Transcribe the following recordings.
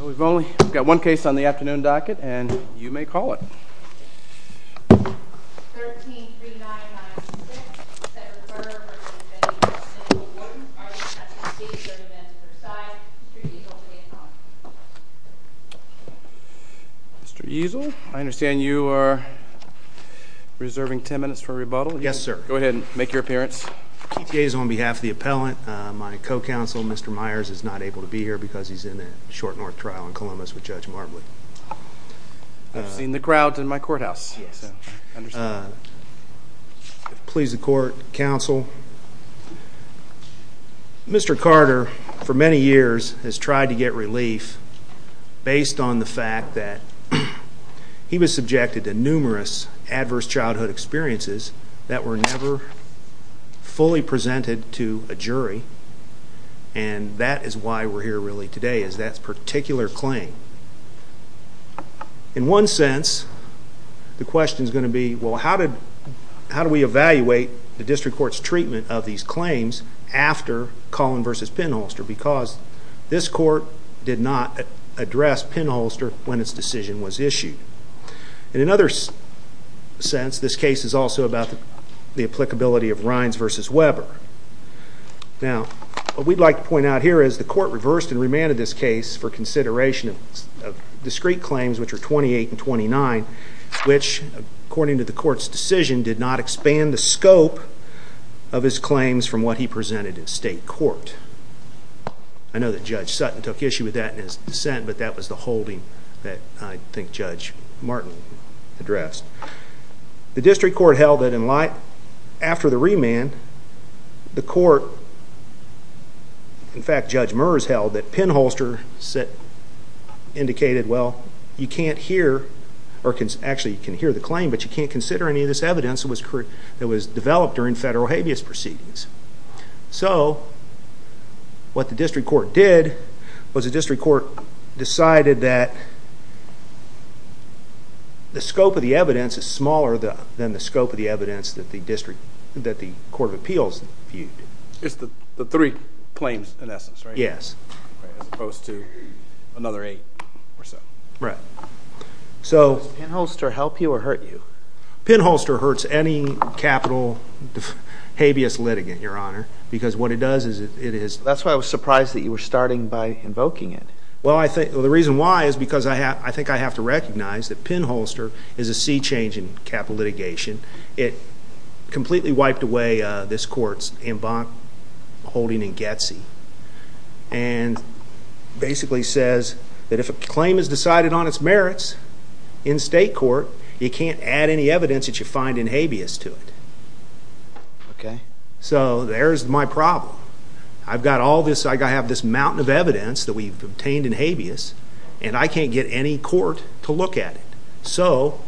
We've only got one case on the afternoon docket, and you may call it. Mr. Easel, I understand you are reserving ten minutes for rebuttal. Yes, sir. Go ahead and make your appearance. K.T.A. is on behalf of the appellant. My co-counsel, Mr. Myers, is not able to be here because he's in a short-north trial in Columbus with Judge Marbley. I've seen the crowd in my courthouse. Yes, sir. I understand. Please, the court, counsel. Mr. Carter, for many years, has tried to get relief based on the fact that he was subjected to numerous adverse childhood experiences that were never fully presented to a jury. And that is why we're here really today, is that particular claim. In one sense, the question is going to be, well, how do we evaluate the district court's treatment of these claims after Collin v. Penholster? Because this court did not address Penholster when its decision was issued. In another sense, this case is also about the applicability of Rines v. Weber. Now, what we'd like to point out here is the court reversed and remanded this case for consideration of discrete claims, which are 28 and 29, which, according to the court's decision, did not expand the scope of his claims from what he presented in state court. I know that Judge Sutton took issue with that in his dissent, but that was the holding that I think Judge Martin addressed. The district court held that after the remand, the court, in fact, Judge Merz held that Penholster indicated, well, you can't hear, or actually, you can hear the claim, but you can't consider any of this evidence that was developed during federal habeas proceedings. So, what the district court did was the district court decided that the scope of the evidence is smaller than the scope of the evidence that the court of appeals viewed. It's the three claims, in essence, right? Yes. As opposed to another eight or so. Right. Does Penholster help you or hurt you? Penholster hurts any capital habeas litigant, Your Honor, because what it does is it is- That's why I was surprised that you were starting by invoking it. Well, the reason why is because I think I have to recognize that Penholster is a sea change in capital litigation. It completely wiped away this court's en banc holding in Getsey and basically says that if a claim is decided on its merits in state court, you can't add any evidence that you find in habeas to it. Okay? So, there's my problem. I've got all this- I have this mountain of evidence that we've obtained in habeas, and I can't get any court to look at it. So,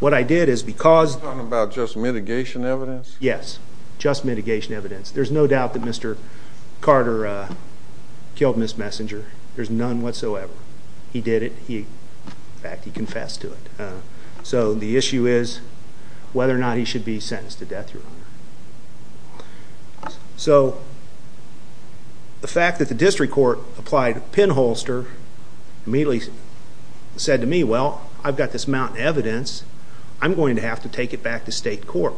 what I did is because- Are you talking about just mitigation evidence? Yes. Just mitigation evidence. There's no doubt that Mr. Carter killed Ms. Messenger. There's none whatsoever. He did it. In fact, he confessed to it. So, the fact that the district court applied Penholster immediately said to me, well, I've got this mountain of evidence, I'm going to have to take it back to state court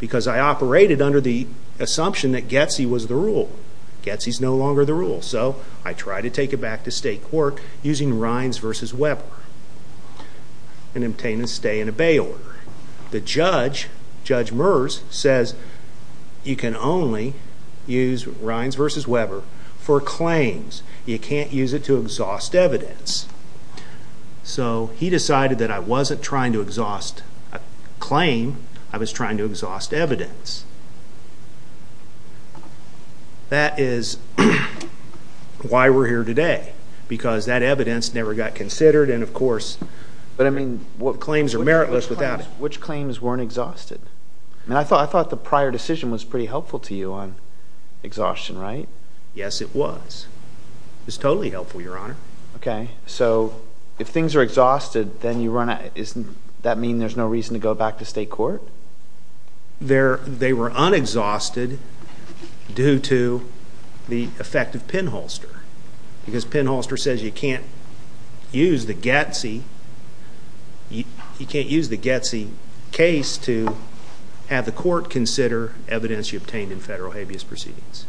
because I operated under the assumption that Getsey was the rule. Getsey's no longer the rule, so I try to take it back to state court using Rines v. Weber and obtain a stay and obey order. The judge, Judge Merz, says you can only use Rines v. Weber for claims. You can't use it to exhaust evidence. So, he decided that I wasn't trying to exhaust a claim, I was trying to exhaust evidence. That is why we're here today, because that evidence never got considered, and of course- Claims are meritless without it. Which claims weren't exhausted? I thought the prior decision was pretty helpful to you on exhaustion, right? Yes, it was. It was totally helpful, Your Honor. Okay. So, if things are exhausted, doesn't that mean there's no reason to go back to state court? They were unexhausted due to the effect of Penholster, because Penholster says you can't use the Getsey case to have the court consider evidence you obtained in federal habeas proceedings.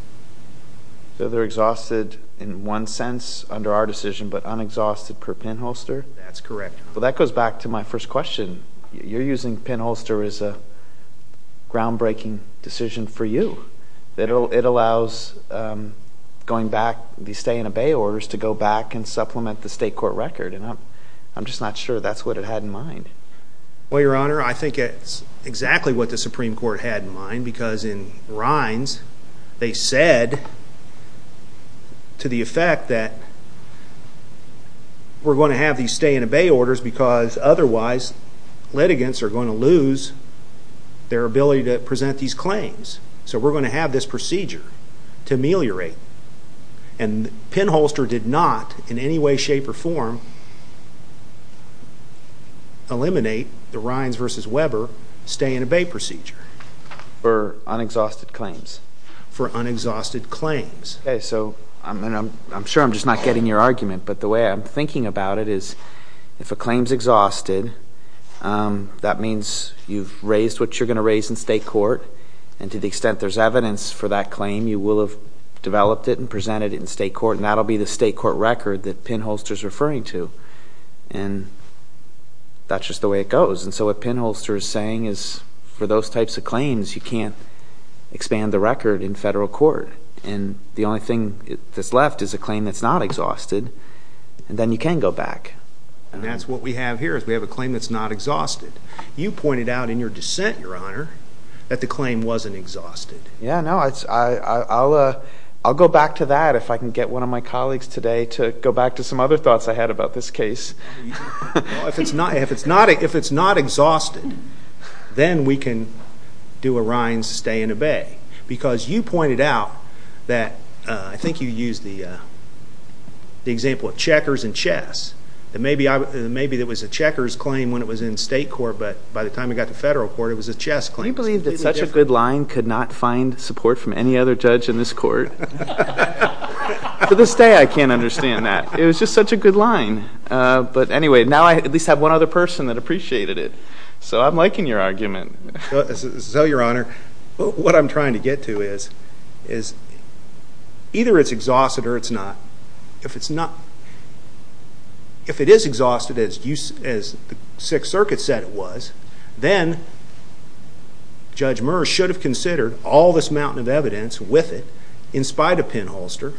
So, they're exhausted in one sense under our decision, but unexhausted per Penholster? That's correct, Your Honor. Well, that goes back to my first question. You're using Penholster as a groundbreaking decision for you. It allows going back, the stay and obey orders, to go back and supplement the state court record, and I'm just not sure that's what it had in mind. Well, Your Honor, I think it's exactly what the Supreme Court had in mind, because in Rines, they said to the effect that we're going to have these stay and obey orders, because otherwise, litigants are going to lose their ability to present these claims. So, we're going to have this procedure to ameliorate, and Penholster did not, in any way, shape, or form, eliminate the Rines v. Weber stay and obey procedure. For unexhausted claims? For unexhausted claims. Okay, so, I'm sure I'm just not getting your argument, but the way I'm thinking about it is if a claim's exhausted, that means you've raised what you're going to raise in state court, and to the extent there's evidence for that claim, you will have developed it and presented it in state court, and that'll be the state court record that Penholster's referring to, and that's just the way it goes. And so, what Penholster is saying is for those types of claims, you can't expand the record in federal court, and the only thing that's left is a claim that's not exhausted, and then you can go back. And that's what we have here, is we have a claim that's not exhausted. You pointed out in your dissent, Your Honor, that the claim wasn't exhausted. Yeah, no, I'll go back to that if I can get one of my colleagues today to go back to some other thoughts I had about this case. If it's not exhausted, then we can do a Rines stay and obey, because you pointed out that, I think you used the example of checkers and chess, that maybe it was a checkers claim when it was in state court, but by the time it got to federal court, it was a chess claim. Do you believe that such a good line could not find support from any other judge in this court? To this day, I can't understand that. It was just such a good line. But anyway, now I at least have one other person that appreciated it, so I'm liking your argument. So, Your Honor, what I'm trying to get to is either it's exhausted or it's not. If it is exhausted, as the Sixth Circuit said it was, then Judge Murr should have considered all this mountain of evidence with it, in spite of Penn-Holster.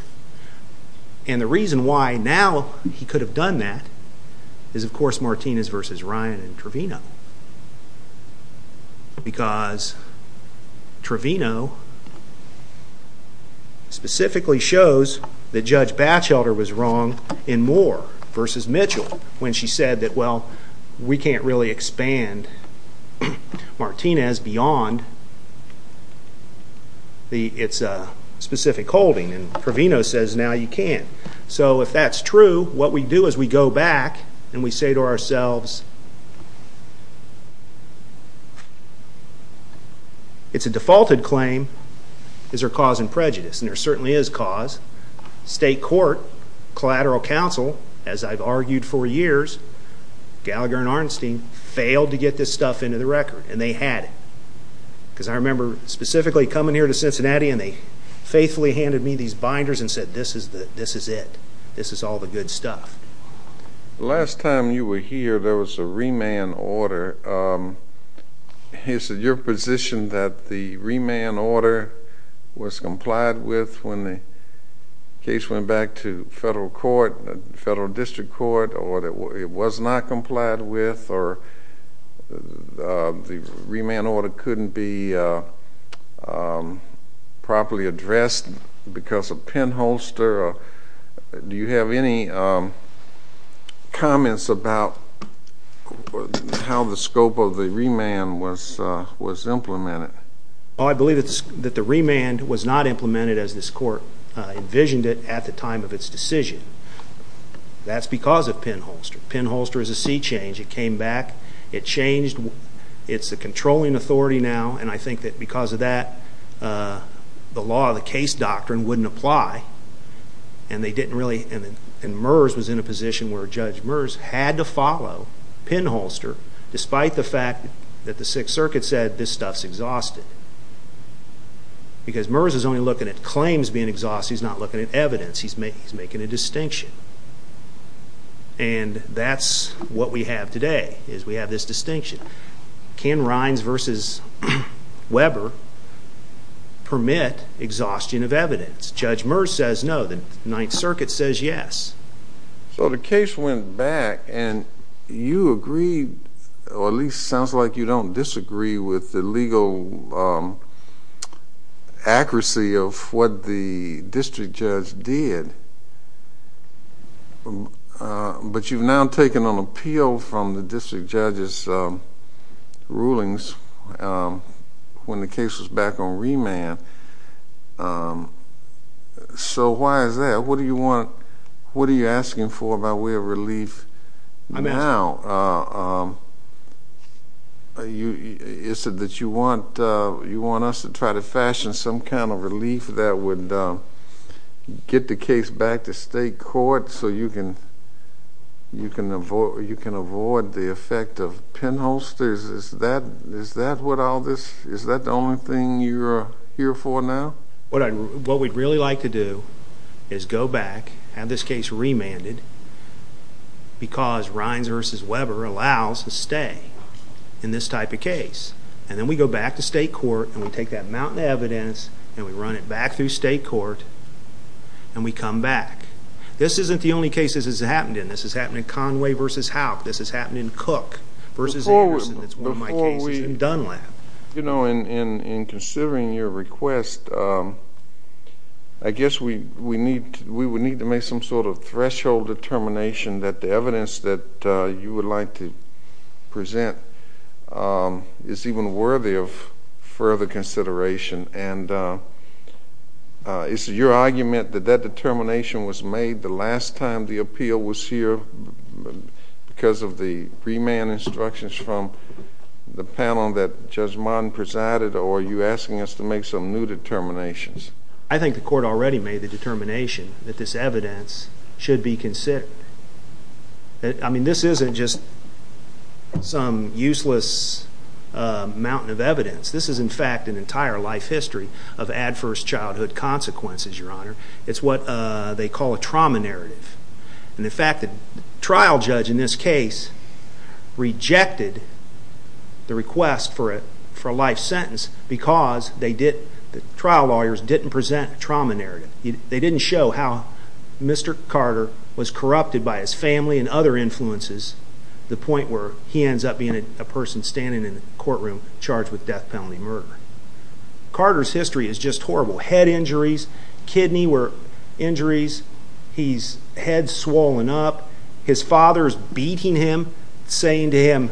And the reason why now he could have done that is, of course, Martinez v. Ryan and Trevino, because Trevino specifically shows that Judge Batchelder was wrong in Murr v. Mitchell when she said that, well, we can't really expand Martinez beyond its specific holding. And Trevino says now you can. So if that's true, what we do is we go back and we say to ourselves, it's a defaulted claim, is there cause in prejudice? And there certainly is cause. State court, collateral counsel, as I've argued for years, Gallagher and Arnstein, failed to get this stuff into the record, and they had it. Because I remember specifically coming here to Cincinnati and they faithfully handed me these binders and said this is it, this is all the good stuff. The last time you were here there was a remand order. Is it your position that the remand order was complied with when the case went back to federal court, the federal district court, or it was not complied with, or the remand order couldn't be properly addressed because of pinholster? Do you have any comments about how the scope of the remand was implemented? I believe that the remand was not implemented as this court envisioned it at the time of its decision. That's because of pinholster. Pinholster is a sea change. It came back. It changed. It's a controlling authority now, and I think that because of that, the law, the case doctrine wouldn't apply, and they didn't really, and Murs was in a position where Judge Murs had to follow pinholster, despite the fact that the Sixth Circuit said this stuff's exhausted, because Murs is only looking at claims being exhausted. He's not looking at evidence. He's making a distinction, and that's what we have today is we have this distinction. Can Rines v. Weber permit exhaustion of evidence? Judge Murs says no. The Ninth Circuit says yes. So the case went back, and you agreed, or at least it sounds like you don't disagree with the legal accuracy of what the district judge did, but you've now taken an appeal from the district judge's rulings when the case was back on remand. So why is that? What are you asking for by way of relief now? Is it that you want us to try to fashion some kind of relief that would get the case back to state court so you can avoid the effect of pinholsters? Is that what all this is? Is that the only thing you're here for now? What we'd really like to do is go back, have this case remanded, because Rines v. Weber allows a stay in this type of case. And then we go back to state court, and we take that mountain of evidence, and we run it back through state court, and we come back. This isn't the only case this has happened in. This has happened in Conway v. Houck. This has happened in Cook v. Anderson. That's one of my cases. In Dunlap. You know, in considering your request, I guess we would need to make some sort of threshold determination that the evidence that you would like to present is even worthy of further consideration. And it's your argument that that determination was made the last time the appeal was here because of the remand instructions from the panel that Judge Martin presided, or are you asking us to make some new determinations? I think the court already made the determination that this evidence should be considered. I mean, this isn't just some useless mountain of evidence. This is, in fact, an entire life history of adverse childhood consequences, Your Honor. It's what they call a trauma narrative. And the fact that the trial judge in this case rejected the request for a life sentence because the trial lawyers didn't present a trauma narrative. They didn't show how Mr. Carter was corrupted by his family and other influences to the point where he ends up being a person standing in a courtroom charged with death, penalty, murder. Carter's history is just horrible. Head injuries, kidney injuries. He's head swollen up. His father is beating him, saying to him,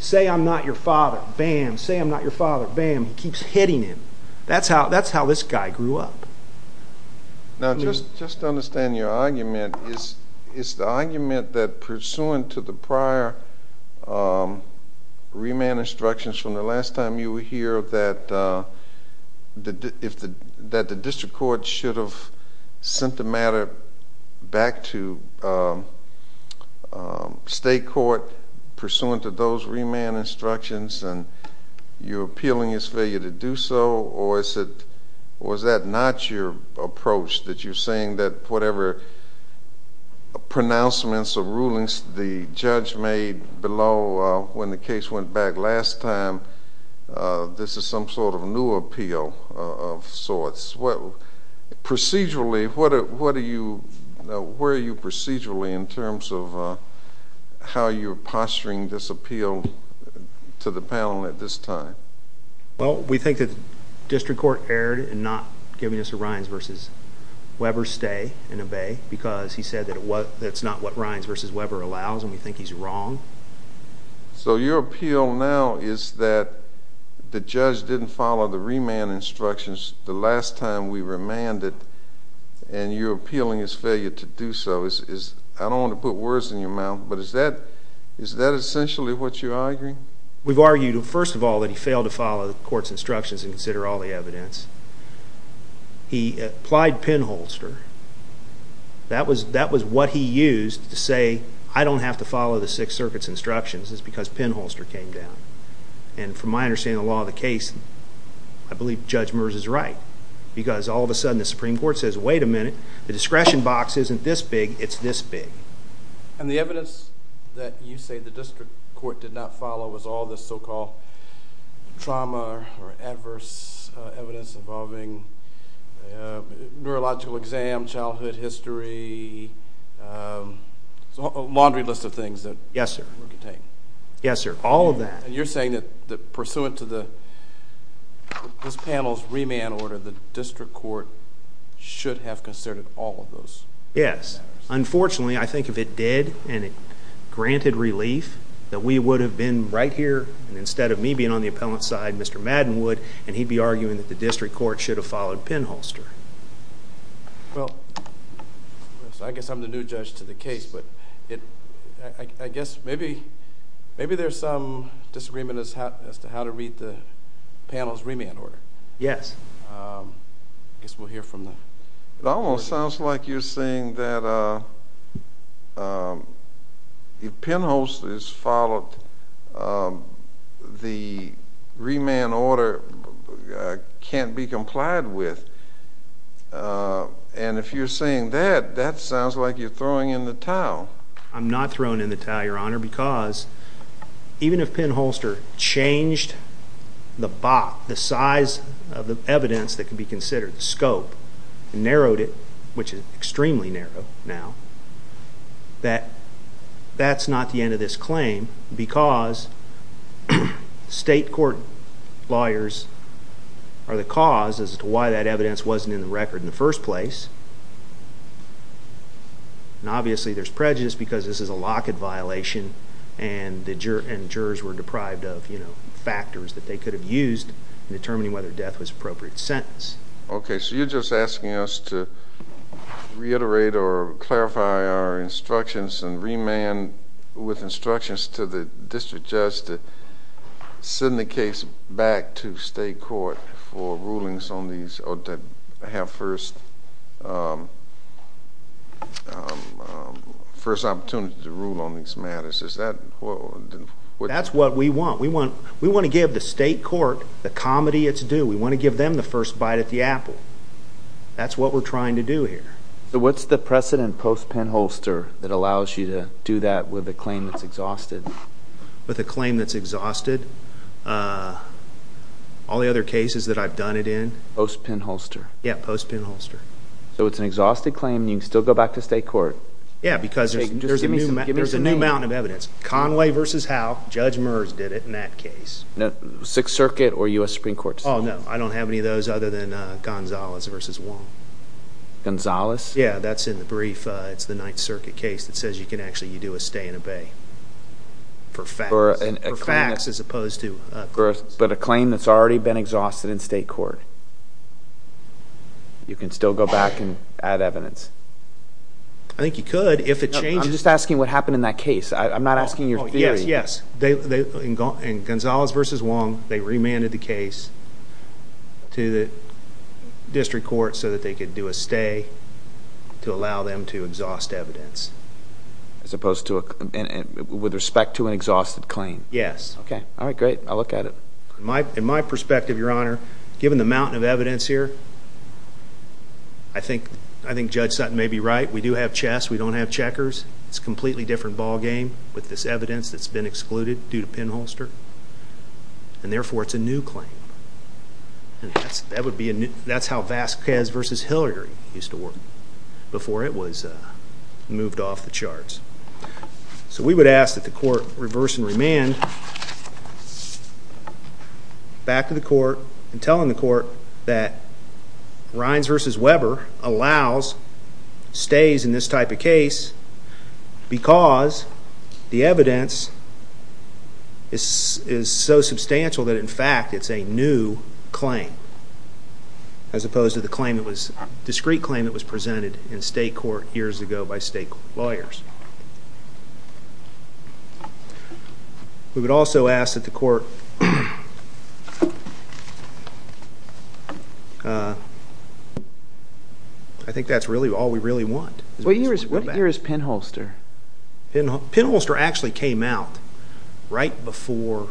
say I'm not your father, bam, say I'm not your father, bam. He keeps hitting him. That's how this guy grew up. Now, just to understand your argument, is the argument that pursuant to the prior remand instructions from the last time you were here that the district court should have sent the matter back to state court pursuant to those remand instructions and you're appealing his failure to do so, or was that not your approach that you're saying that whatever pronouncements or rulings the judge made below when the case went back last time, this is some sort of new appeal of sorts? Procedurally, where are you procedurally in terms of how you're posturing this appeal to the panel at this time? Well, we think that the district court erred in not giving us a Rines v. Weber stay in a bay because he said that's not what Rines v. Weber allows and we think he's wrong. So your appeal now is that the judge didn't follow the remand instructions the last time we remanded and you're appealing his failure to do so. I don't want to put words in your mouth, but is that essentially what you're arguing? We've argued, first of all, that he failed to follow the court's instructions and consider all the evidence. He applied pinholster. That was what he used to say, I don't have to follow the Sixth Circuit's instructions. It's because pinholster came down. And from my understanding of the law of the case, I believe Judge Meurs is right because all of a sudden the Supreme Court says, wait a minute, the discretion box isn't this big, it's this big. And the evidence that you say the district court did not follow was all the so-called trauma or adverse evidence involving neurological exam, childhood history, laundry list of things. Yes, sir. Yes, sir, all of that. And you're saying that pursuant to this panel's remand order, the district court should have considered all of those matters. Yes. Unfortunately, I think if it did and it granted relief, that we would have been right here and instead of me being on the appellant's side, Mr. Madden would, and he'd be arguing that the district court should have followed pinholster. Well, I guess I'm the new judge to the case, but I guess maybe there's some disagreement as to how to read the panel's remand order. Yes. I guess we'll hear from them. It almost sounds like you're saying that if pinholster is followed, the remand order can't be complied with. And if you're saying that, that sounds like you're throwing in the towel. I'm not throwing in the towel, Your Honor, because even if pinholster changed the box, the size of the evidence that could be considered, the scope, and narrowed it, which is extremely narrow now, that that's not the end of this claim because state court lawyers are the cause as to why that evidence wasn't in the record in the first place. And obviously there's prejudice because this is a locket violation and jurors were deprived of factors that they could have used in determining whether death was an appropriate sentence. Okay. So you're just asking us to reiterate or clarify our instructions and remand with instructions to the district judge to send the case back to state court for rulings on these or to have first opportunity to rule on these matters. Is that what? That's what we want. We want to give the state court the comedy it's due. We want to give them the first bite of the apple. That's what we're trying to do here. So what's the precedent post pinholster that allows you to do that with a claim that's exhausted? With a claim that's exhausted, all the other cases that I've done it in. Post pinholster? Yeah, post pinholster. So it's an exhausted claim and you can still go back to state court? Yeah, because there's a new amount of evidence. Conway v. Howe, Judge Meurs did it in that case. Sixth Circuit or U.S. Supreme Court? Oh, no. I don't have any of those other than Gonzalez v. Wong. Gonzalez? Yeah, that's in the brief. It's the Ninth Circuit case that says you can actually do a stay and obey for facts. For facts as opposed to evidence. But a claim that's already been exhausted in state court? You can still go back and add evidence? I think you could if it changes. I'm just asking what happened in that case. I'm not asking your theory. Yes, yes. In Gonzalez v. Wong, they remanded the case to the district court so that they could do a stay to allow them to exhaust evidence. With respect to an exhausted claim? Yes. Okay, all right, great. I'll look at it. In my perspective, Your Honor, given the amount of evidence here, I think Judge Sutton may be right. We do have chess. We don't have checkers. It's a completely different ballgame with this evidence that's been excluded due to pinholster. And therefore, it's a new claim. That's how Vasquez v. Hillary used to work before it was moved off the charts. So we would ask that the court reverse and remand back to the court and tell the court that Rines v. Weber allows stays in this type of case because the evidence is so substantial that, in fact, it's a new claim as opposed to the discrete claim that was presented in state court years ago by state lawyers. We would also ask that the court ---- I think that's really all we really want. What year is pinholster? Pinholster actually came out right before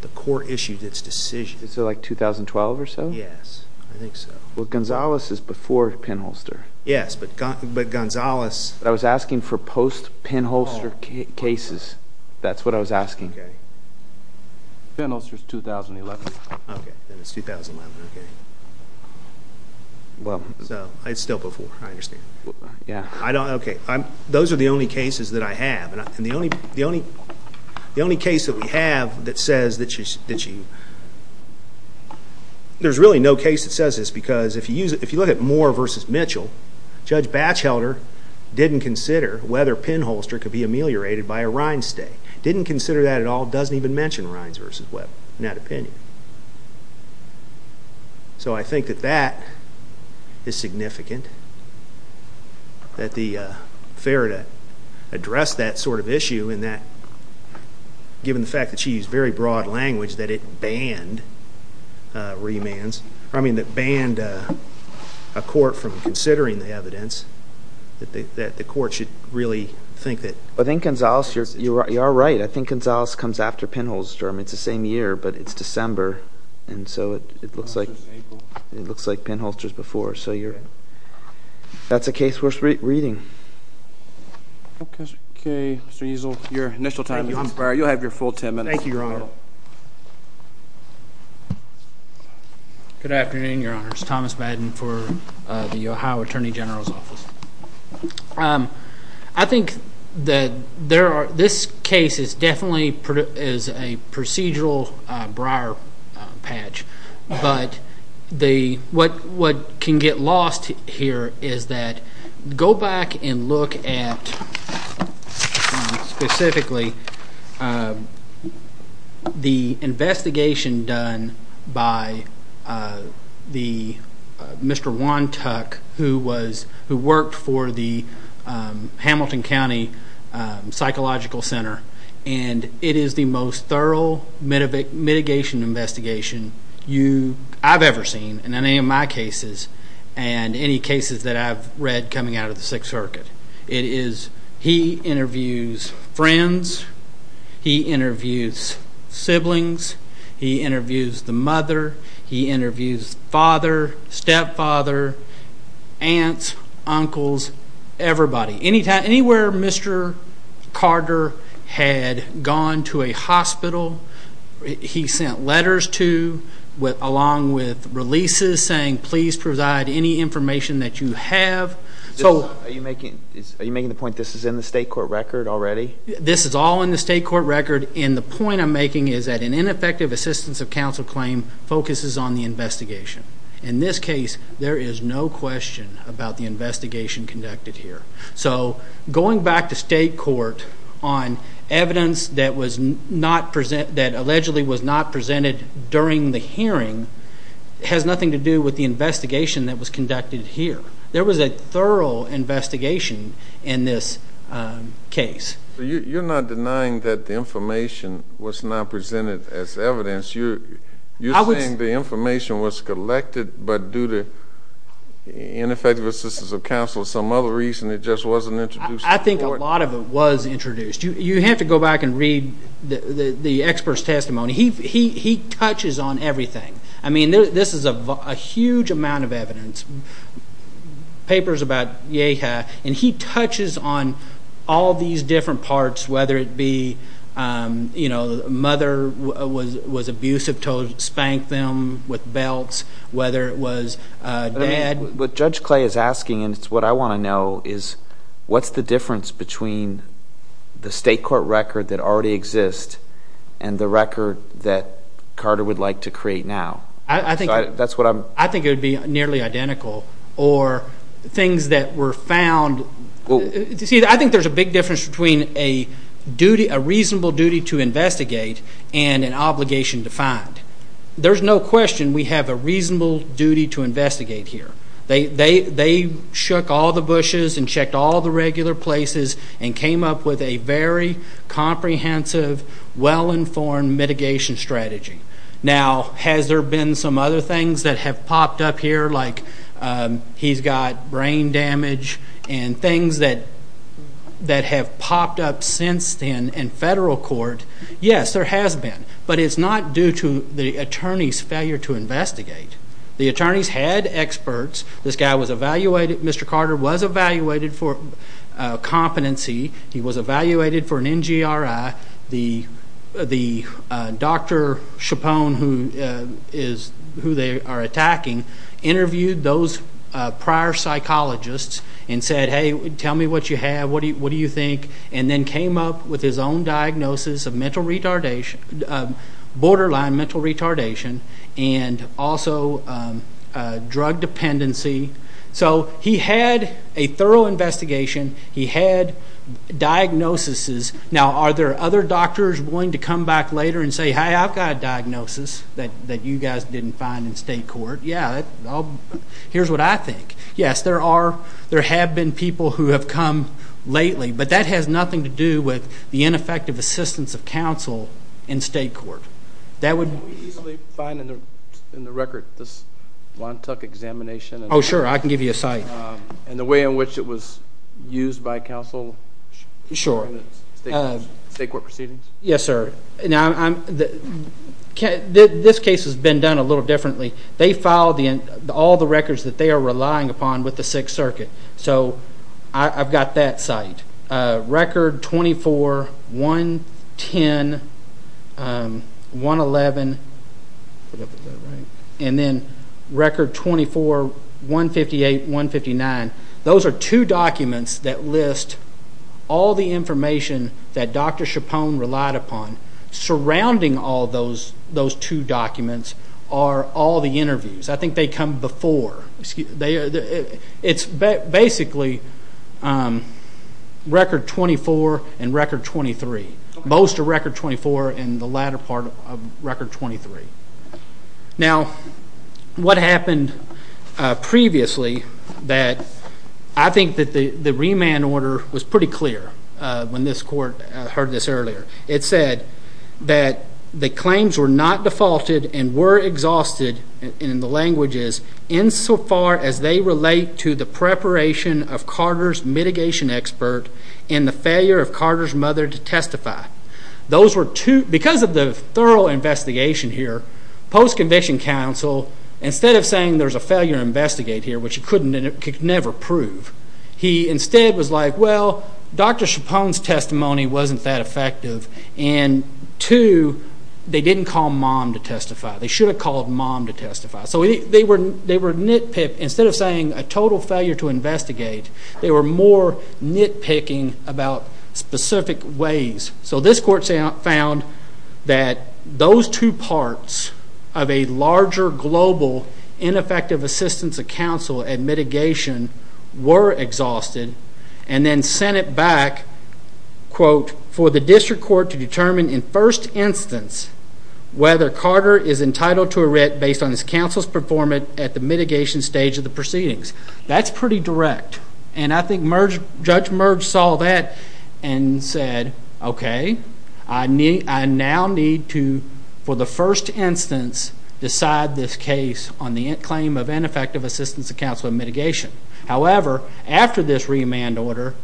the court issued its decision. Is it like 2012 or so? Yes, I think so. Well, Gonzales is before pinholster. Yes, but Gonzales ---- I was asking for post-pinholster cases. That's what I was asking. Okay. Pinholster is 2011. Okay, then it's 2011. Okay. So it's still before. I understand. Okay, those are the only cases that I have. The only case that we have that says that you ---- there's really no case that says this because if you look at Moore v. Mitchell, Judge Batchelder didn't consider whether pinholster could be ameliorated by a Rines stay, didn't consider that at all, doesn't even mention Rines v. Weber in that opinion. So I think that that is significant, that the fair to address that sort of issue and that given the fact that she used very broad language that it banned remands, I mean that banned a court from considering the evidence, that the court should really think that ---- I think, Gonzales, you are right. I think Gonzales comes after pinholster. I mean, it's the same year, but it's December, and so it looks like pinholster is before. So that's a case worth reading. Okay, Mr. Easel, your initial time is expired. You'll have your full ten minutes. Thank you, Your Honor. Good afternoon, Your Honor. It's Thomas Madden for the Ohio Attorney General's Office. I think that this case is definitely a procedural briar patch, but what can get lost here is that go back and look at, specifically, the investigation done by Mr. Wontuck, who worked for the Hamilton County Psychological Center, and it is the most thorough mitigation investigation I've ever seen in any of my cases and any cases that I've read coming out of the Sixth Circuit. He interviews friends. He interviews siblings. He interviews the mother. He interviews father, stepfather, aunts, uncles, everybody. Anywhere Mr. Carter had gone to a hospital, he sent letters to, along with releases, saying please provide any information that you have. Are you making the point this is in the state court record already? This is all in the state court record, and the point I'm making is that an ineffective assistance of counsel claim focuses on the investigation. In this case, there is no question about the investigation conducted here. So going back to state court on evidence that allegedly was not presented during the hearing has nothing to do with the investigation that was conducted here. There was a thorough investigation in this case. You're not denying that the information was not presented as evidence. You're saying the information was collected but due to ineffective assistance of counsel or some other reason it just wasn't introduced to the court? I think a lot of it was introduced. You have to go back and read the expert's testimony. He touches on everything. I mean, this is a huge amount of evidence, papers about Yeha, and he touches on all these different parts, whether it be mother was abusive, spanked them with belts, whether it was dad. What Judge Clay is asking, and it's what I want to know, is what's the difference between the state court record that already exists and the record that Carter would like to create now? I think it would be nearly identical, or things that were found. See, I think there's a big difference between a reasonable duty to investigate and an obligation to find. There's no question we have a reasonable duty to investigate here. They shook all the bushes and checked all the regular places and came up with a very comprehensive, well-informed mitigation strategy. Now, has there been some other things that have popped up here, like he's got brain damage and things that have popped up since then in federal court? Yes, there has been, but it's not due to the attorney's failure to investigate. The attorneys had experts. This guy was evaluated. Mr. Carter was evaluated for competency. He was evaluated for an NGRI. The Dr. Chapone, who they are attacking, interviewed those prior psychologists and said, hey, tell me what you have, what do you think, and then came up with his own diagnosis of borderline mental retardation and also drug dependency. So he had a thorough investigation. He had diagnoses. Now, are there other doctors willing to come back later and say, hey, I've got a diagnosis that you guys didn't find in state court? Yeah, here's what I think. Yes, there have been people who have come lately, but that has nothing to do with the ineffective assistance of counsel in state court. Can we easily find in the record this Wontuck examination? Oh, sure, I can give you a site. And the way in which it was used by counsel in state court proceedings? Yes, sir. This case has been done a little differently. They filed all the records that they are relying upon with the Sixth Circuit. So I've got that site. Record 24, 110, 111, and then record 24, 158, 159. Those are two documents that list all the information that Dr. Chapone relied upon. Surrounding all those two documents are all the interviews. I think they come before. It's basically record 24 and record 23. Most are record 24 and the latter part of record 23. Now, what happened previously that I think that the remand order was pretty clear when this court heard this earlier. It said that the claims were not defaulted and were exhausted in the languages insofar as they relate to the preparation of Carter's mitigation expert and the failure of Carter's mother to testify. Because of the thorough investigation here, post-conviction counsel, instead of saying there's a failure to investigate here, which it could never prove, he instead was like, well, Dr. Chapone's testimony wasn't that effective, and two, they didn't call mom to testify. They should have called mom to testify. So they were nitpicked. Instead of saying a total failure to investigate, they were more nitpicking about specific ways. So this court found that those two parts of a larger global ineffective assistance of counsel and mitigation were exhausted and then sent it back, quote, for the district court to determine in first instance whether Carter is entitled to a writ based on his counsel's performance at the mitigation stage of the proceedings. That's pretty direct. And I think Judge Merge saw that and said, okay, I now need to, for the first instance, decide this case on the claim of ineffective assistance of counsel and mitigation. However, after this remand order,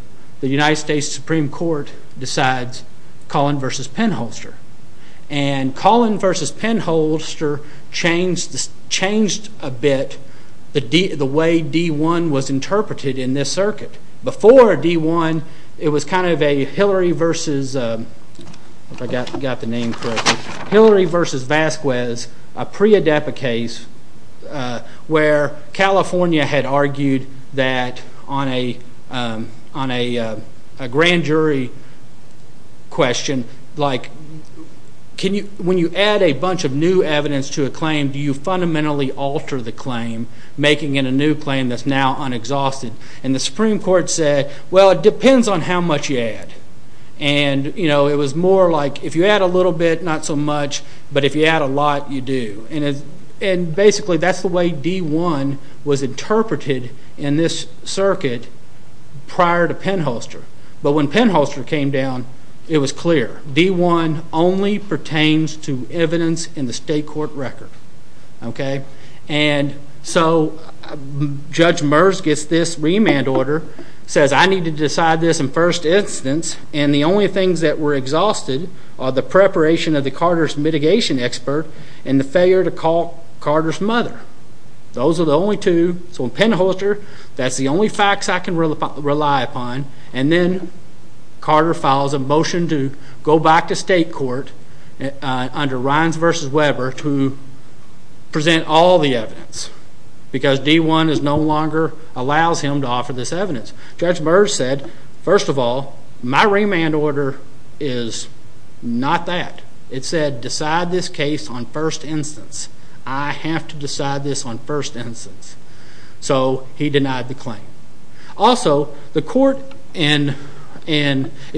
the United States Supreme Court decides Collin v. Penholster. And Collin v. Penholster changed a bit the way D-1 was interpreted in this circuit. Before D-1, it was kind of a Hillary v. Vasquez, a pre-ADEPA case where California had argued that on a grand jury question, like when you add a bunch of new evidence to a claim, do you fundamentally alter the claim, making it a new claim that's now unexhausted? And the Supreme Court said, well, it depends on how much you add. And it was more like if you add a little bit, not so much, but if you add a lot, you do. And basically that's the way D-1 was interpreted in this circuit prior to Penholster. But when Penholster came down, it was clear. D-1 only pertains to evidence in the state court record. And so Judge Merge gets this remand order, says I need to decide this in first instance, and the only things that were exhausted are the preparation of the Carter's mitigation expert and the failure to call Carter's mother. Those are the only two. So in Penholster, that's the only facts I can rely upon. And then Carter files a motion to go back to state court under Reins v. Weber to present all the evidence because D-1 no longer allows him to offer this evidence. Judge Merge said, first of all, my remand order is not that. It said decide this case on first instance. I have to decide this on first instance. So he denied the claim. Also, if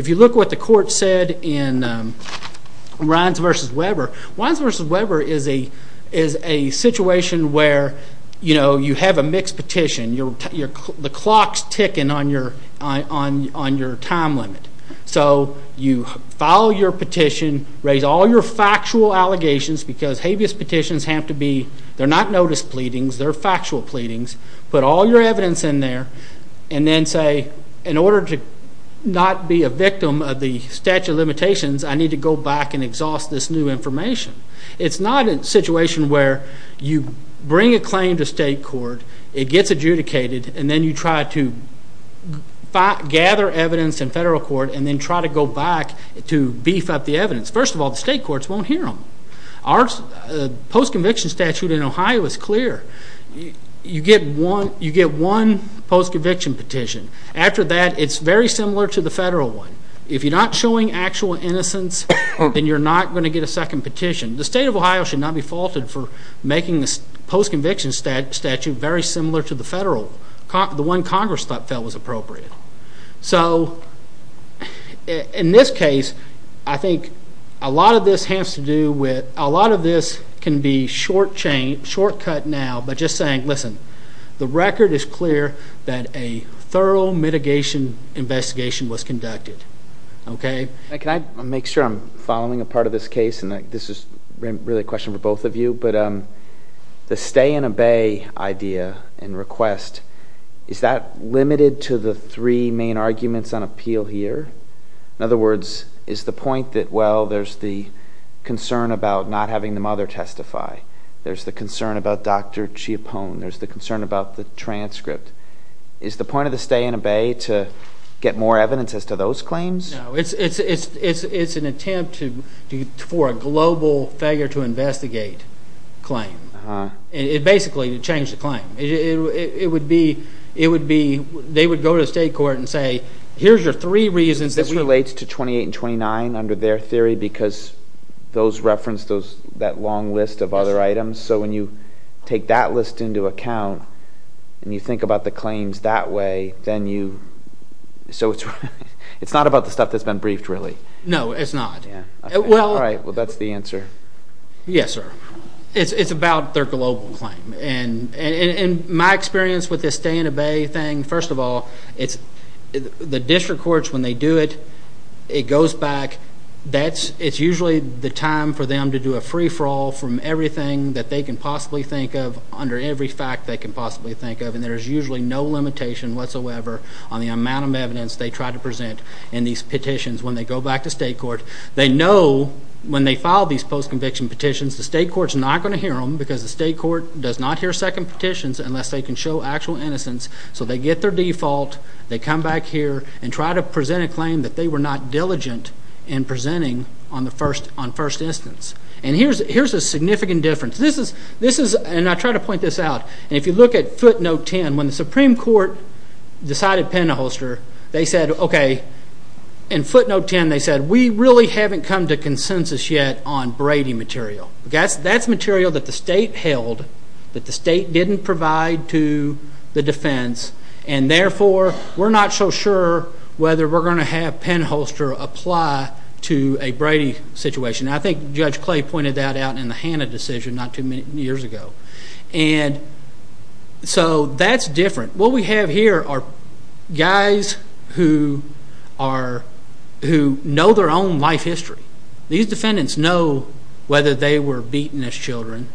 you look what the court said in Reins v. Weber, Reins v. Weber is a situation where you have a mixed petition. The clock's ticking on your time limit. So you file your petition, raise all your factual allegations because habeas petitions have to be not notice pleadings. They're factual pleadings. Put all your evidence in there and then say, in order to not be a victim of the statute of limitations, I need to go back and exhaust this new information. It's not a situation where you bring a claim to state court, it gets adjudicated, and then you try to gather evidence in federal court and then try to go back to beef up the evidence. First of all, the state courts won't hear them. Our post-conviction statute in Ohio is clear. You get one post-conviction petition. After that, it's very similar to the federal one. If you're not showing actual innocence, then you're not going to get a second petition. The state of Ohio should not be faulted for making this post-conviction statute very similar to the federal, the one Congress felt was appropriate. So in this case, I think a lot of this has to do with, a lot of this can be short cut now by just saying, listen, the record is clear that a thorough mitigation investigation was conducted. Can I make sure I'm following a part of this case? This is really a question for both of you, but the stay and obey idea and request, is that limited to the three main arguments on appeal here? In other words, is the point that, well, there's the concern about not having the mother testify, there's the concern about Dr. Chiapone, there's the concern about the transcript. Is the point of the stay and obey to get more evidence as to those claims? No, it's an attempt for a global failure to investigate claim. It basically would change the claim. It would be, they would go to the state court and say, here's your three reasons. This relates to 28 and 29 under their theory, because those reference that long list of other items. So when you take that list into account and you think about the claims that way, then you, so it's not about the stuff that's been briefed really. No, it's not. All right, well, that's the answer. Yes, sir. It's about their global claim. And my experience with this stay and obey thing, first of all, it's the district courts when they do it, it goes back. It's usually the time for them to do a free-for-all from everything that they can possibly think of under every fact they can possibly think of, and there's usually no limitation whatsoever on the amount of evidence they try to present in these petitions when they go back to state court. They know when they file these post-conviction petitions, the state court's not going to hear them because the state court does not hear second petitions unless they can show actual innocence. So they get their default. They come back here and try to present a claim that they were not diligent in presenting on first instance. And here's a significant difference. This is, and I try to point this out, and if you look at footnote 10, when the Supreme Court decided Penderholster, they said, okay, in footnote 10 they said, we really haven't come to consensus yet on Brady material. That's material that the state held, that the state didn't provide to the defense, and therefore we're not so sure whether we're going to have Penderholster apply to a Brady situation. I think Judge Clay pointed that out in the Hanna decision not too many years ago. And so that's different. What we have here are guys who know their own life history. These defendants know whether they were beaten as children.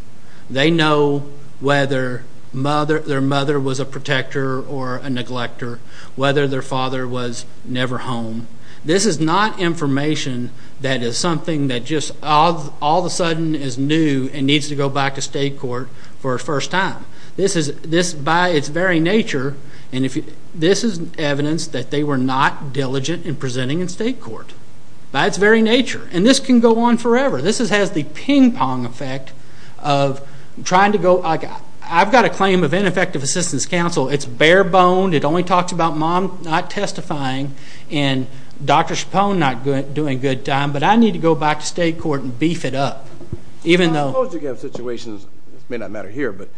They know whether their mother was a protector or a neglecter, whether their father was never home. This is not information that is something that just all of a sudden is new and needs to go back to state court for a first time. This, by its very nature, and this is evidence that they were not diligent in presenting in state court. By its very nature. And this can go on forever. This has the ping-pong effect of trying to go, like I've got a claim of ineffective assistance counsel. It's bare-boned. It only talks about mom not testifying and Dr. Chapone not doing a good job. But I need to go back to state court and beef it up. I suppose you can have situations, it may not matter here, but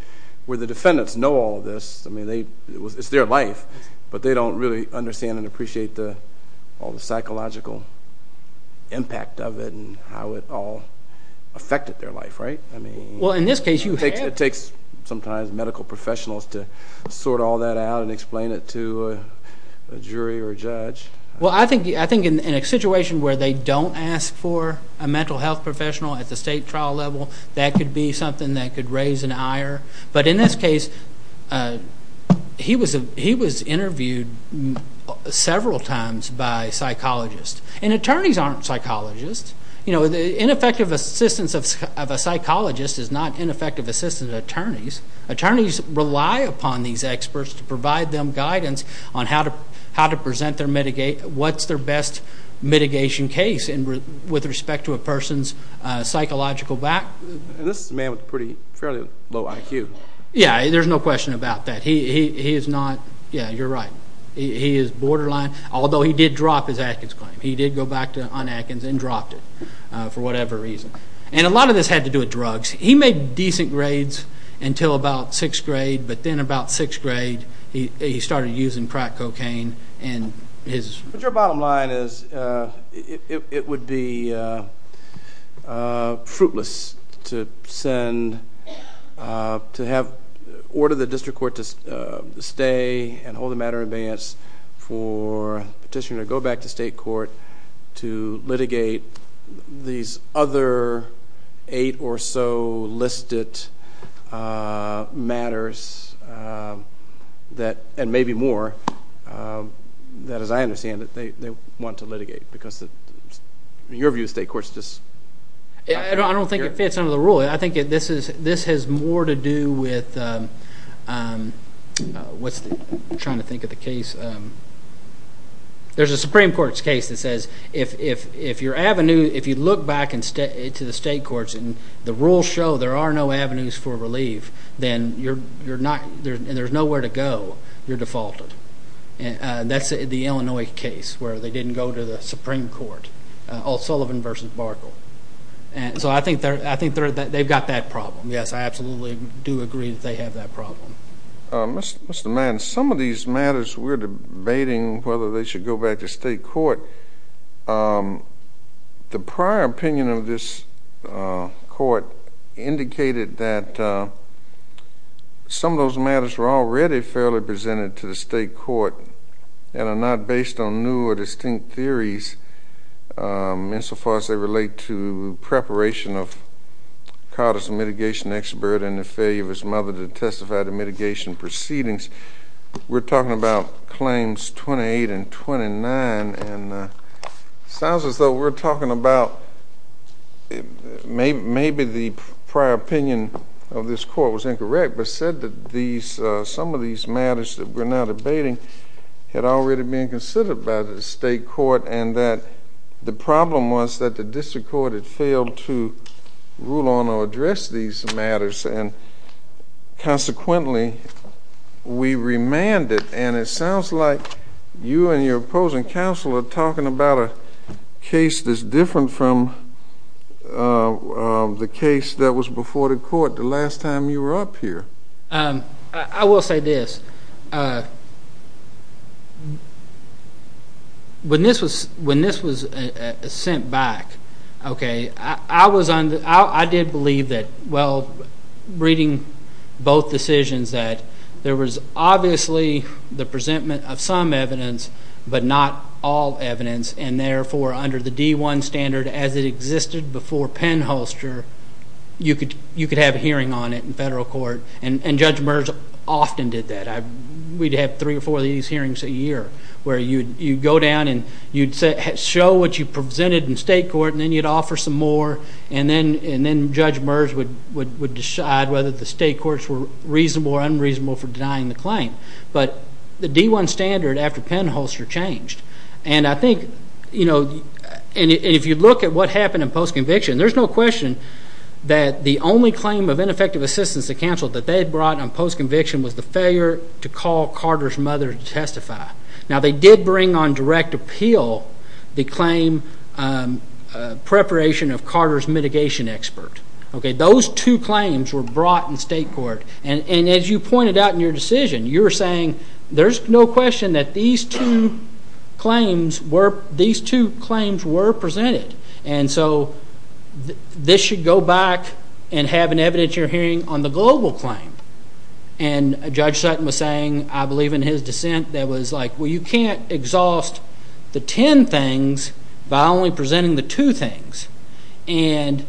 where the defendants know all this. I mean, it's their life, but they don't really understand and appreciate all the psychological impact of it and how it all affected their life, right? Well, in this case you have. It takes sometimes medical professionals to sort all that out and explain it to a jury or a judge. Well, I think in a situation where they don't ask for a mental health professional at the state trial level, but in this case he was interviewed several times by psychologists. And attorneys aren't psychologists. You know, ineffective assistance of a psychologist is not ineffective assistance of attorneys. Attorneys rely upon these experts to provide them guidance on how to present their mitigation, what's their best mitigation case with respect to a person's psychological back. This is a man with a pretty fairly low IQ. Yeah, there's no question about that. He is not, yeah, you're right. He is borderline, although he did drop his Atkins claim. He did go back on Atkins and dropped it for whatever reason. And a lot of this had to do with drugs. He made decent grades until about sixth grade, but then about sixth grade he started using crack cocaine. But your bottom line is it would be fruitless to send, to have, order the district court to stay and hold the matter in advance for petitioner to go back to state court to litigate these other eight or so listed matters that, and maybe more, that, as I understand it, they want to litigate. Because in your view, state courts just. I don't think it fits under the rule. I think this has more to do with what's the, I'm trying to think of the case. There's a Supreme Court's case that says if your avenue, if you look back to the state courts and the rules show there are no avenues for relief, then you're not, and there's nowhere to go, you're defaulted. That's the Illinois case where they didn't go to the Supreme Court. All Sullivan versus Barkle. And so I think they've got that problem. Yes, I absolutely do agree that they have that problem. Mr. Madden, some of these matters we're debating whether they should go back to state court. The prior opinion of this court indicated that some of those matters were already fairly presented to the state court and are not based on new or distinct theories insofar as they relate to preparation of Carter's mitigation expert and the failure of his mother to testify to mitigation proceedings. We're talking about claims 28 and 29. And it sounds as though we're talking about maybe the prior opinion of this court was incorrect but said that some of these matters that we're now debating had already been considered by the state court and that the problem was that the district court had failed to rule on or address these matters and consequently we remanded. And it sounds like you and your opposing counsel are talking about a case that's different from the case that was before the court the last time you were up here. I will say this. When this was sent back, I did believe that, well, reading both decisions, that there was obviously the presentment of some evidence but not all evidence and therefore under the D-1 standard as it existed before penholster, you could have a hearing on it in federal court and Judge Merz often did that. We'd have three or four of these hearings a year where you'd go down and you'd show what you presented in state court and then you'd offer some more and then Judge Merz would decide whether the state courts were reasonable or unreasonable for denying the claim. But the D-1 standard after penholster changed. And I think, you know, and if you look at what happened in postconviction, there's no question that the only claim of ineffective assistance to counsel that they brought on postconviction was the failure to call Carter's mother to testify. Now, they did bring on direct appeal the claim preparation of Carter's mitigation expert. Those two claims were brought in state court. And as you pointed out in your decision, you were saying there's no question that these two claims were presented. And so this should go back and have an evidentiary hearing on the global claim. And Judge Sutton was saying, I believe in his dissent, that was like, well, you can't exhaust the ten things by only presenting the two things. And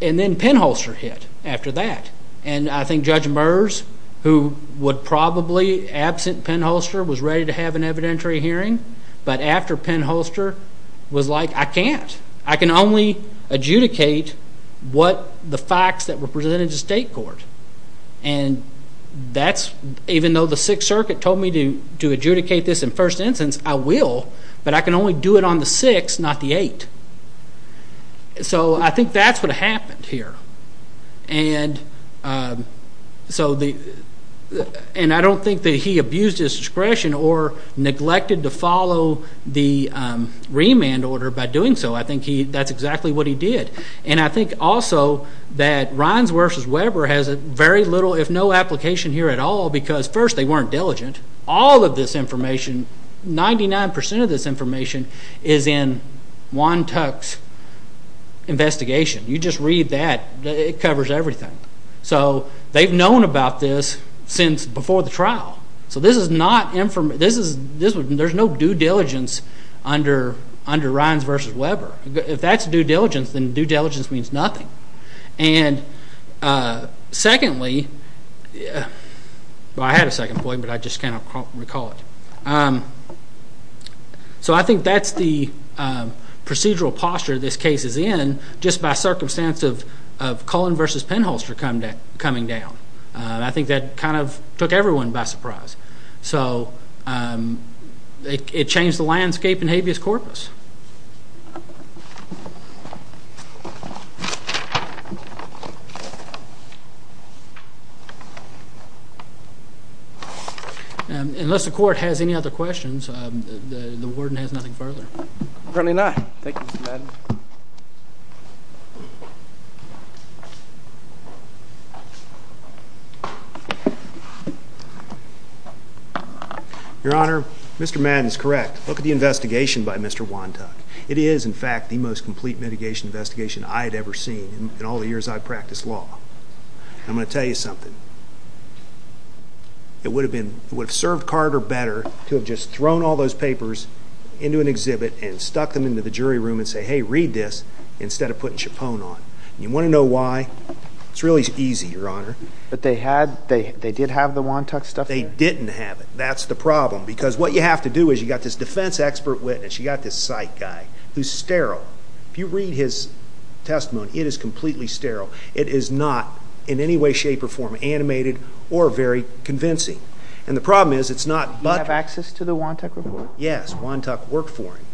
then penholster hit after that. And I think Judge Merz, who would probably absent penholster, was ready to have an evidentiary hearing. But after penholster was like, I can't. I can only adjudicate what the facts that were presented to state court. And that's, even though the Sixth Circuit told me to adjudicate this in first instance, I will. But I can only do it on the six, not the eight. So I think that's what happened here. And I don't think that he abused his discretion or neglected to follow the remand order by doing so. I think that's exactly what he did. And I think also that Reins versus Weber has very little, if no application here at all, because first, they weren't diligent. All of this information, 99% of this information, is in Juan Tuck's investigation. You just read that, it covers everything. So they've known about this since before the trial. So there's no due diligence under Reins versus Weber. If that's due diligence, then due diligence means nothing. And secondly, well, I had a second point, but I just can't recall it. So I think that's the procedural posture this case is in, just by circumstance of Cullen versus Penholster coming down. I think that kind of took everyone by surprise. So it changed the landscape in habeas corpus. Unless the court has any other questions, the warden has nothing further. Certainly not. Thank you, Mr. Madden. Your Honor, Mr. Madden is correct. Look at the investigation by Mr. Juan. It is, in fact, the most complete mitigation investigation I had ever seen in all the years I've practiced law. I'm going to tell you something. It would have served Carter better to have just thrown all those papers into an exhibit and stuck them into the jury room and say, hey, read this, instead of putting Chapone on. You want to know why? It's really easy, Your Honor. But they did have the Juan Tuck stuff? They didn't have it. That's the problem. Because what you have to do is you've got this defense expert witness, you've got this psych guy who's sterile. If you read his testimony, it is completely sterile. It is not in any way, shape, or form animated or very convincing. And the problem is it's not buttressed. Do you have access to the Juan Tuck report? Yes, Juan Tuck worked for him.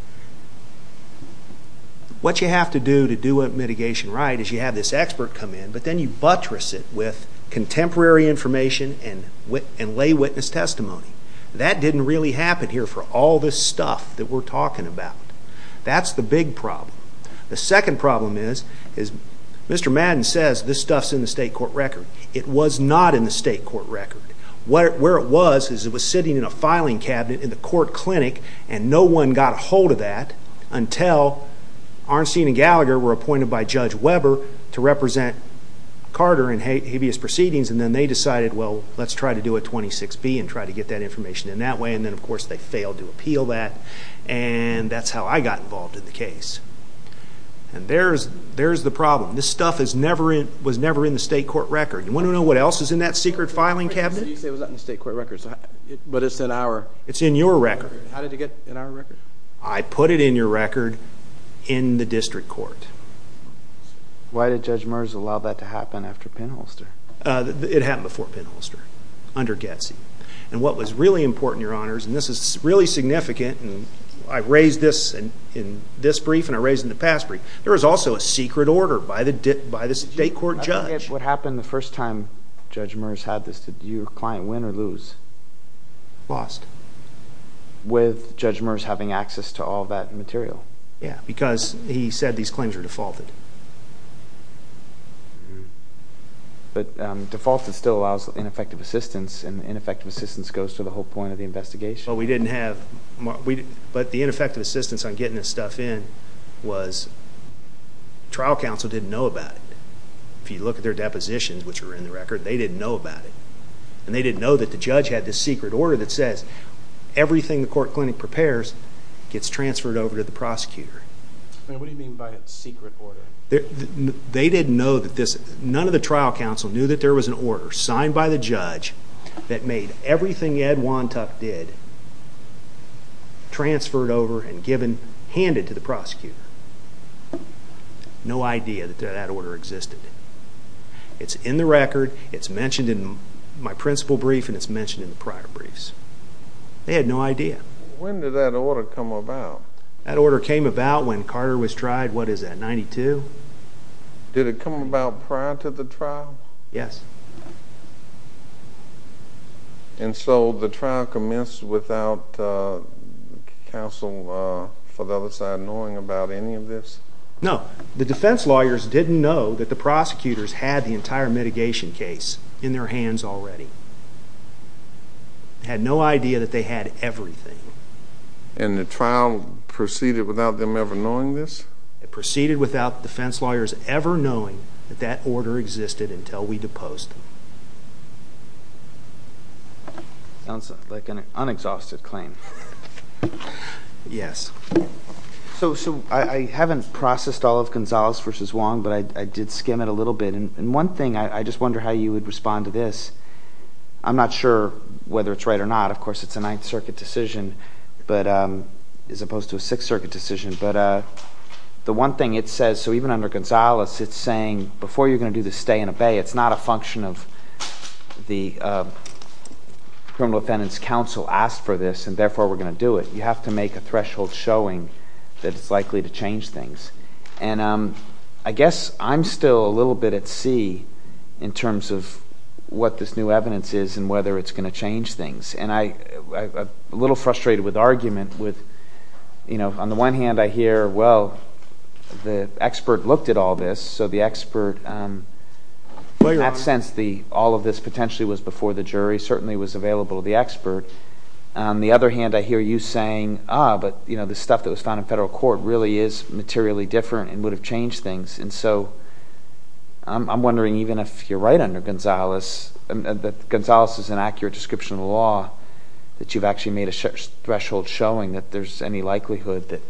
What you have to do to do a mitigation right is you have this expert come in, but then you buttress it with contemporary information and lay witness testimony. That didn't really happen here for all this stuff that we're talking about. That's the big problem. The second problem is Mr. Madden says this stuff's in the state court record. It was not in the state court record. Where it was is it was sitting in a filing cabinet in the court clinic, and no one got a hold of that until Arnstein and Gallagher were appointed by Judge Weber Let's try to do a 26B and try to get that information in that way, and then, of course, they failed to appeal that, and that's how I got involved in the case. And there's the problem. This stuff was never in the state court record. You want to know what else is in that secret filing cabinet? You say it was not in the state court record, but it's in our record. It's in your record. How did it get in our record? I put it in your record in the district court. Why did Judge Merz allow that to happen after Penholster? It happened before Penholster, under Getz. And what was really important, Your Honors, and this is really significant, and I raised this in this brief and I raised it in the past brief, there was also a secret order by the state court judge. I forget what happened the first time Judge Merz had this. Did your client win or lose? Lost. With Judge Merz having access to all that material? Yeah, because he said these claims were defaulted. But defaulted still allows ineffective assistance, and ineffective assistance goes to the whole point of the investigation. But we didn't have, but the ineffective assistance on getting this stuff in was trial counsel didn't know about it. If you look at their depositions, which are in the record, they didn't know about it. And they didn't know that the judge had this secret order that says everything the court clinic prepares gets transferred over to the prosecutor. What do you mean by a secret order? They didn't know that this, none of the trial counsel knew that there was an order signed by the judge that made everything Ed Wontuck did transferred over and given, handed to the prosecutor. No idea that that order existed. It's in the record, it's mentioned in my principal brief, and it's mentioned in the prior briefs. They had no idea. When did that order come about? That order came about when Carter was tried, what is that, 92? Did it come about prior to the trial? Yes. And so the trial commenced without counsel for the other side knowing about any of this? No. The defense lawyers didn't know that the prosecutors had the entire mitigation case in their hands already. Had no idea that they had everything. And the trial proceeded without them ever knowing this? It proceeded without the defense lawyers ever knowing that that order existed until we deposed them. Sounds like an unexhausted claim. Yes. So I haven't processed all of Gonzalez v. Wong, but I did skim it a little bit. And one thing, I just wonder how you would respond to this. I'm not sure whether it's right or not. Of course, it's a Ninth Circuit decision as opposed to a Sixth Circuit decision. But the one thing it says, so even under Gonzalez it's saying, before you're going to do the stay and obey, it's not a function of the criminal defendant's counsel asked for this and therefore we're going to do it. You have to make a threshold showing that it's likely to change things. And I guess I'm still a little bit at sea in terms of what this new evidence is and whether it's going to change things. And I'm a little frustrated with the argument. On the one hand, I hear, well, the expert looked at all this, so the expert in that sense, all of this potentially was before the jury, certainly was available to the expert. On the other hand, I hear you saying, ah, but the stuff that was found in federal court really is materially different and would have changed things. And so I'm wondering even if you're right under Gonzalez, that Gonzalez is an accurate description of the law, that you've actually made a threshold showing that there's any likelihood that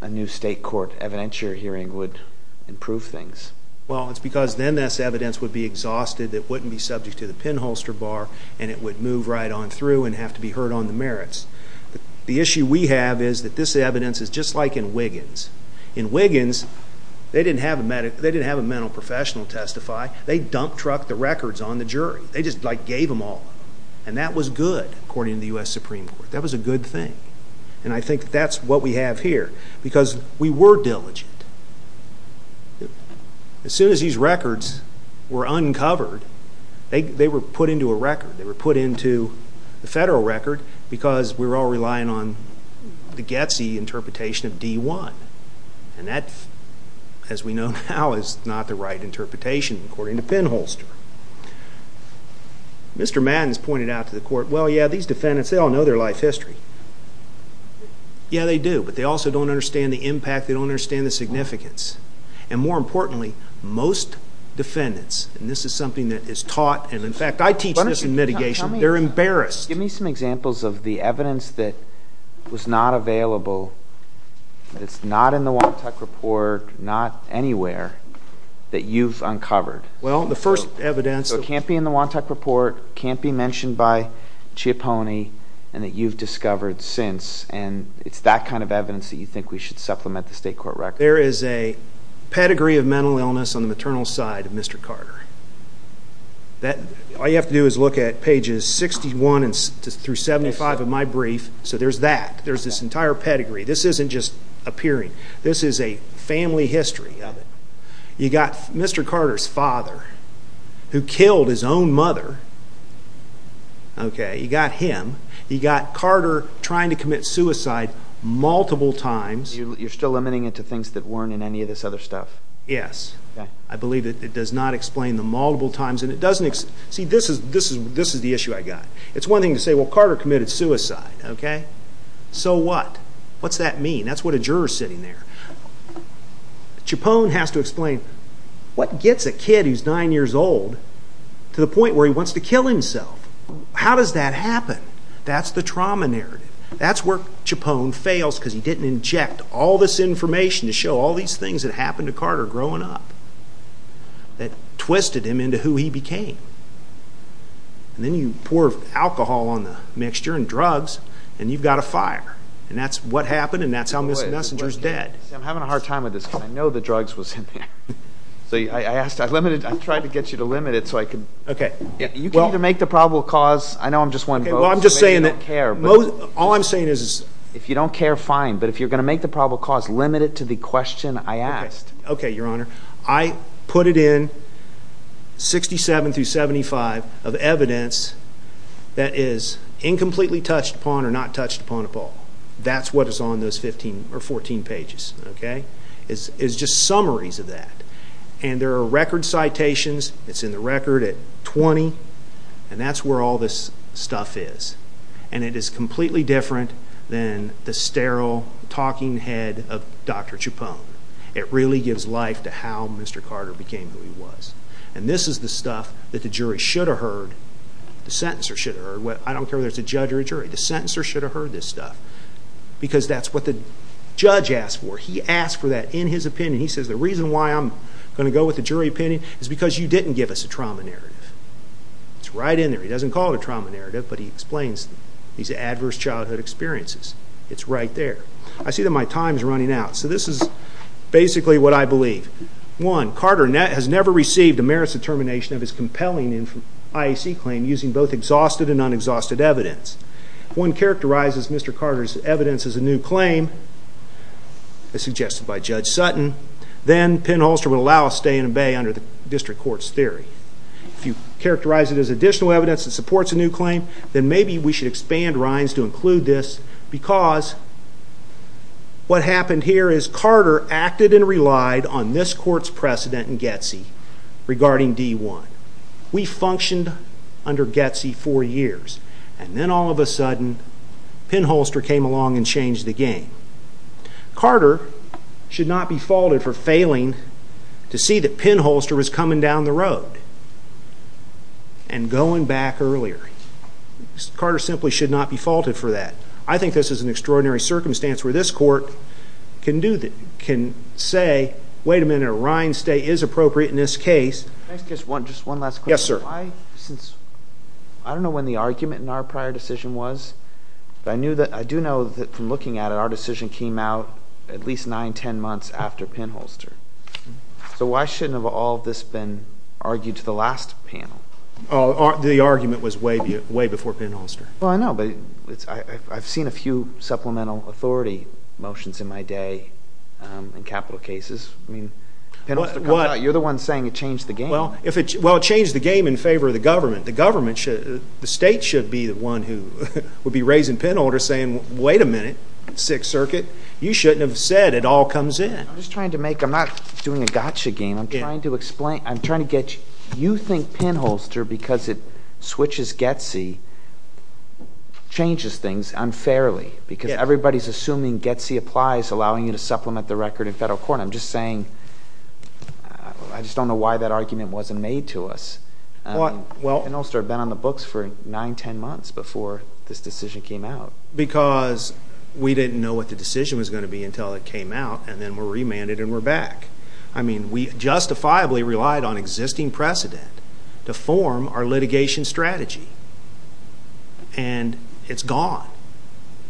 a new state court evidentiary hearing would improve things. Well, it's because then this evidence would be exhausted that wouldn't be subject to the pinholster bar and it would move right on through and have to be heard on the merits. The issue we have is that this evidence is just like in Wiggins. In Wiggins, they didn't have a mental professional testify. They dump truck the records on the jury. They just gave them all. And that was good, according to the U.S. Supreme Court. That was a good thing. And I think that's what we have here because we were diligent. As soon as these records were uncovered, they were put into a record. They were put into the federal record because we were all relying on the getsy interpretation of D-1. And that, as we know now, is not the right interpretation, according to pinholster. Mr. Madden has pointed out to the court, well, yeah, these defendants, they all know their life history. Yeah, they do, but they also don't understand the impact. They don't understand the significance. And more importantly, most defendants, and this is something that is taught, and in fact, I teach this in mitigation. They're embarrassed. Give me some examples of the evidence that was not available, that's not in the WANTEC report, not anywhere, that you've uncovered. Well, the first evidence. So it can't be in the WANTEC report, can't be mentioned by Chiapone, and that you've discovered since. And it's that kind of evidence that you think we should supplement the state court record. There is a pedigree of mental illness on the maternal side of Mr. Carter. All you have to do is look at pages 61 through 75 of my brief, so there's that. There's this entire pedigree. This isn't just appearing. This is a family history of it. You've got Mr. Carter's father who killed his own mother. You've got him. You've got Carter trying to commit suicide multiple times. You're still limiting it to things that weren't in any of this other stuff? Yes. I believe it does not explain the multiple times. See, this is the issue I've got. It's one thing to say, well, Carter committed suicide. So what? What's that mean? That's what a juror's sitting there. Chiapone has to explain, what gets a kid who's nine years old to the point where he wants to kill himself? How does that happen? That's the trauma narrative. That's where Chiapone fails because he didn't inject all this information to show all these things that happened to Carter growing up that twisted him into who he became. Then you pour alcohol on the mixture and drugs, and you've got a fire. That's what happened, and that's how Mr. Messenger's dead. I'm having a hard time with this because I know the drugs was in there. I tried to get you to limit it so I could. Okay. You can either make the probable cause. I know I'm just one vote, so maybe you don't care. All I'm saying is if you don't care, fine. But if you're going to make the probable cause, limit it to the question I asked. Okay, Your Honor. I put it in 67 through 75 of evidence that is incompletely touched upon or not touched upon at all. That's what is on those 14 pages. It's just summaries of that, and there are record citations. It's in the record at 20, and that's where all this stuff is, and it is completely different than the sterile talking head of Dr. Chiapone. It really gives life to how Mr. Carter became who he was. And this is the stuff that the jury should have heard, the sentencer should have heard. I don't care whether it's a judge or a jury. The sentencer should have heard this stuff because that's what the judge asked for. He asked for that in his opinion. He says the reason why I'm going to go with the jury opinion is because you didn't give us a trauma narrative. It's right in there. He doesn't call it a trauma narrative, but he explains these adverse childhood experiences. It's right there. I see that my time is running out. So this is basically what I believe. One, Carter has never received a merits determination of his compelling IAC claim using both exhausted and unexhausted evidence. If one characterizes Mr. Carter's evidence as a new claim, as suggested by Judge Sutton, then Penn-Holster would allow a stay and obey under the district court's theory. If you characterize it as additional evidence that supports a new claim, then maybe we should expand Rhines to include this because what happened here is Carter acted and relied on this court's precedent in Getsy regarding D-1. We functioned under Getsy four years, and then all of a sudden Penn-Holster came along and changed the game. Carter should not be faulted for failing to see that Penn-Holster was coming down the road and going back earlier. Carter simply should not be faulted for that. I think this is an extraordinary circumstance where this court can say, wait a minute, a Rhines stay is appropriate in this case. Can I ask just one last question? Yes, sir. I don't know when the argument in our prior decision was, but I do know that from looking at it, our decision came out at least nine, ten months after Penn-Holster. So why shouldn't all of this have been argued to the last panel? The argument was way before Penn-Holster. Well, I know, but I've seen a few supplemental authority motions in my day in capital cases. I mean, Penn-Holster comes out, you're the one saying it changed the game. Well, it changed the game in favor of the government. The state should be the one who would be raising Penn-Holster saying, wait a minute, Sixth Circuit, you shouldn't have said it all comes in. I'm just trying to make, I'm not doing a gotcha game. I'm trying to get you to think Penn-Holster, because it switches Getty, changes things unfairly, because everybody is assuming Getty applies, allowing you to supplement the record in federal court. I'm just saying, I just don't know why that argument wasn't made to us. Penn-Holster had been on the books for nine, ten months before this decision came out. Because we didn't know what the decision was going to be until it came out, and then we're remanded and we're back. I mean, we justifiably relied on existing precedent to form our litigation strategy, and it's gone.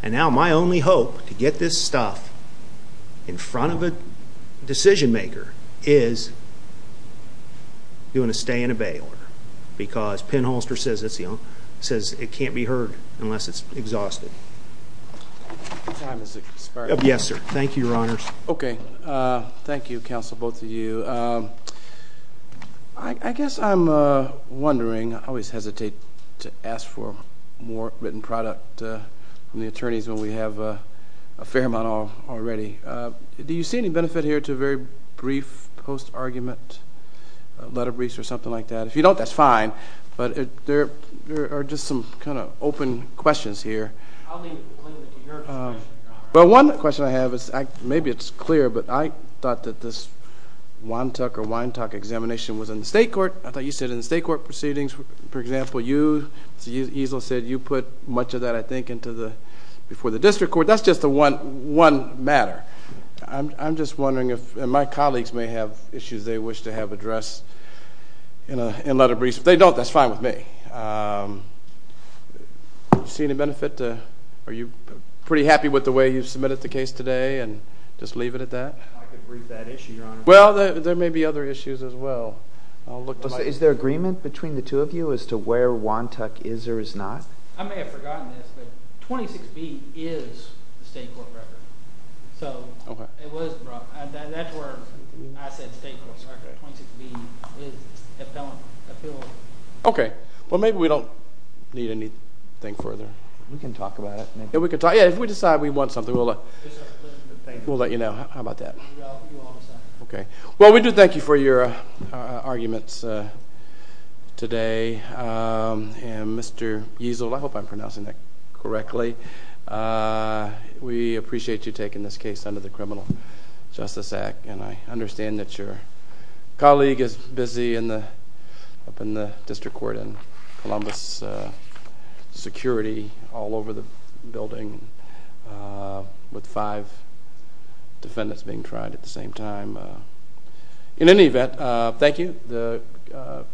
And now my only hope to get this stuff in front of a decision maker is doing a stay and a bail order, because Penn-Holster says it can't be heard unless it's exhausted. Your time has expired. Yes, sir. Thank you, Your Honors. Okay. Thank you, counsel, both of you. I guess I'm wondering, I always hesitate to ask for more written product from the attorneys when we have a fair amount already. Do you see any benefit here to a very brief post-argument, letter briefs or something like that? If you don't, that's fine. But there are just some kind of open questions here. I'll leave it to your discretion, Your Honor. Well, one question I have is maybe it's clear, but I thought that this WANTOC or WINETOC examination was in the state court. I thought you said in the state court proceedings, for example, you, Mr. Easle, said you put much of that, I think, before the district court. That's just one matter. I'm just wondering if my colleagues may have issues they wish to have addressed in letter briefs. If they don't, that's fine with me. Do you see any benefit? Are you pretty happy with the way you've submitted the case today and just leave it at that? I could brief that issue, Your Honor. Well, there may be other issues as well. Is there agreement between the two of you as to where WANTOC is or is not? I may have forgotten this, but 26B is the state court record. So that's where I said state court record. 26B is appellant appeal. Okay. Well, maybe we don't need anything further. We can talk about it. Yeah, if we decide we want something, we'll let you know. How about that? Okay. Well, we do thank you for your arguments today. Mr. Easel, I hope I'm pronouncing that correctly. We appreciate you taking this case under the Criminal Justice Act, and I understand that your colleague is busy up in the district court in Columbus, security all over the building with five defendants being tried at the same time. In any event, thank you. The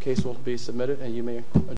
case will be submitted, and you may adjourn.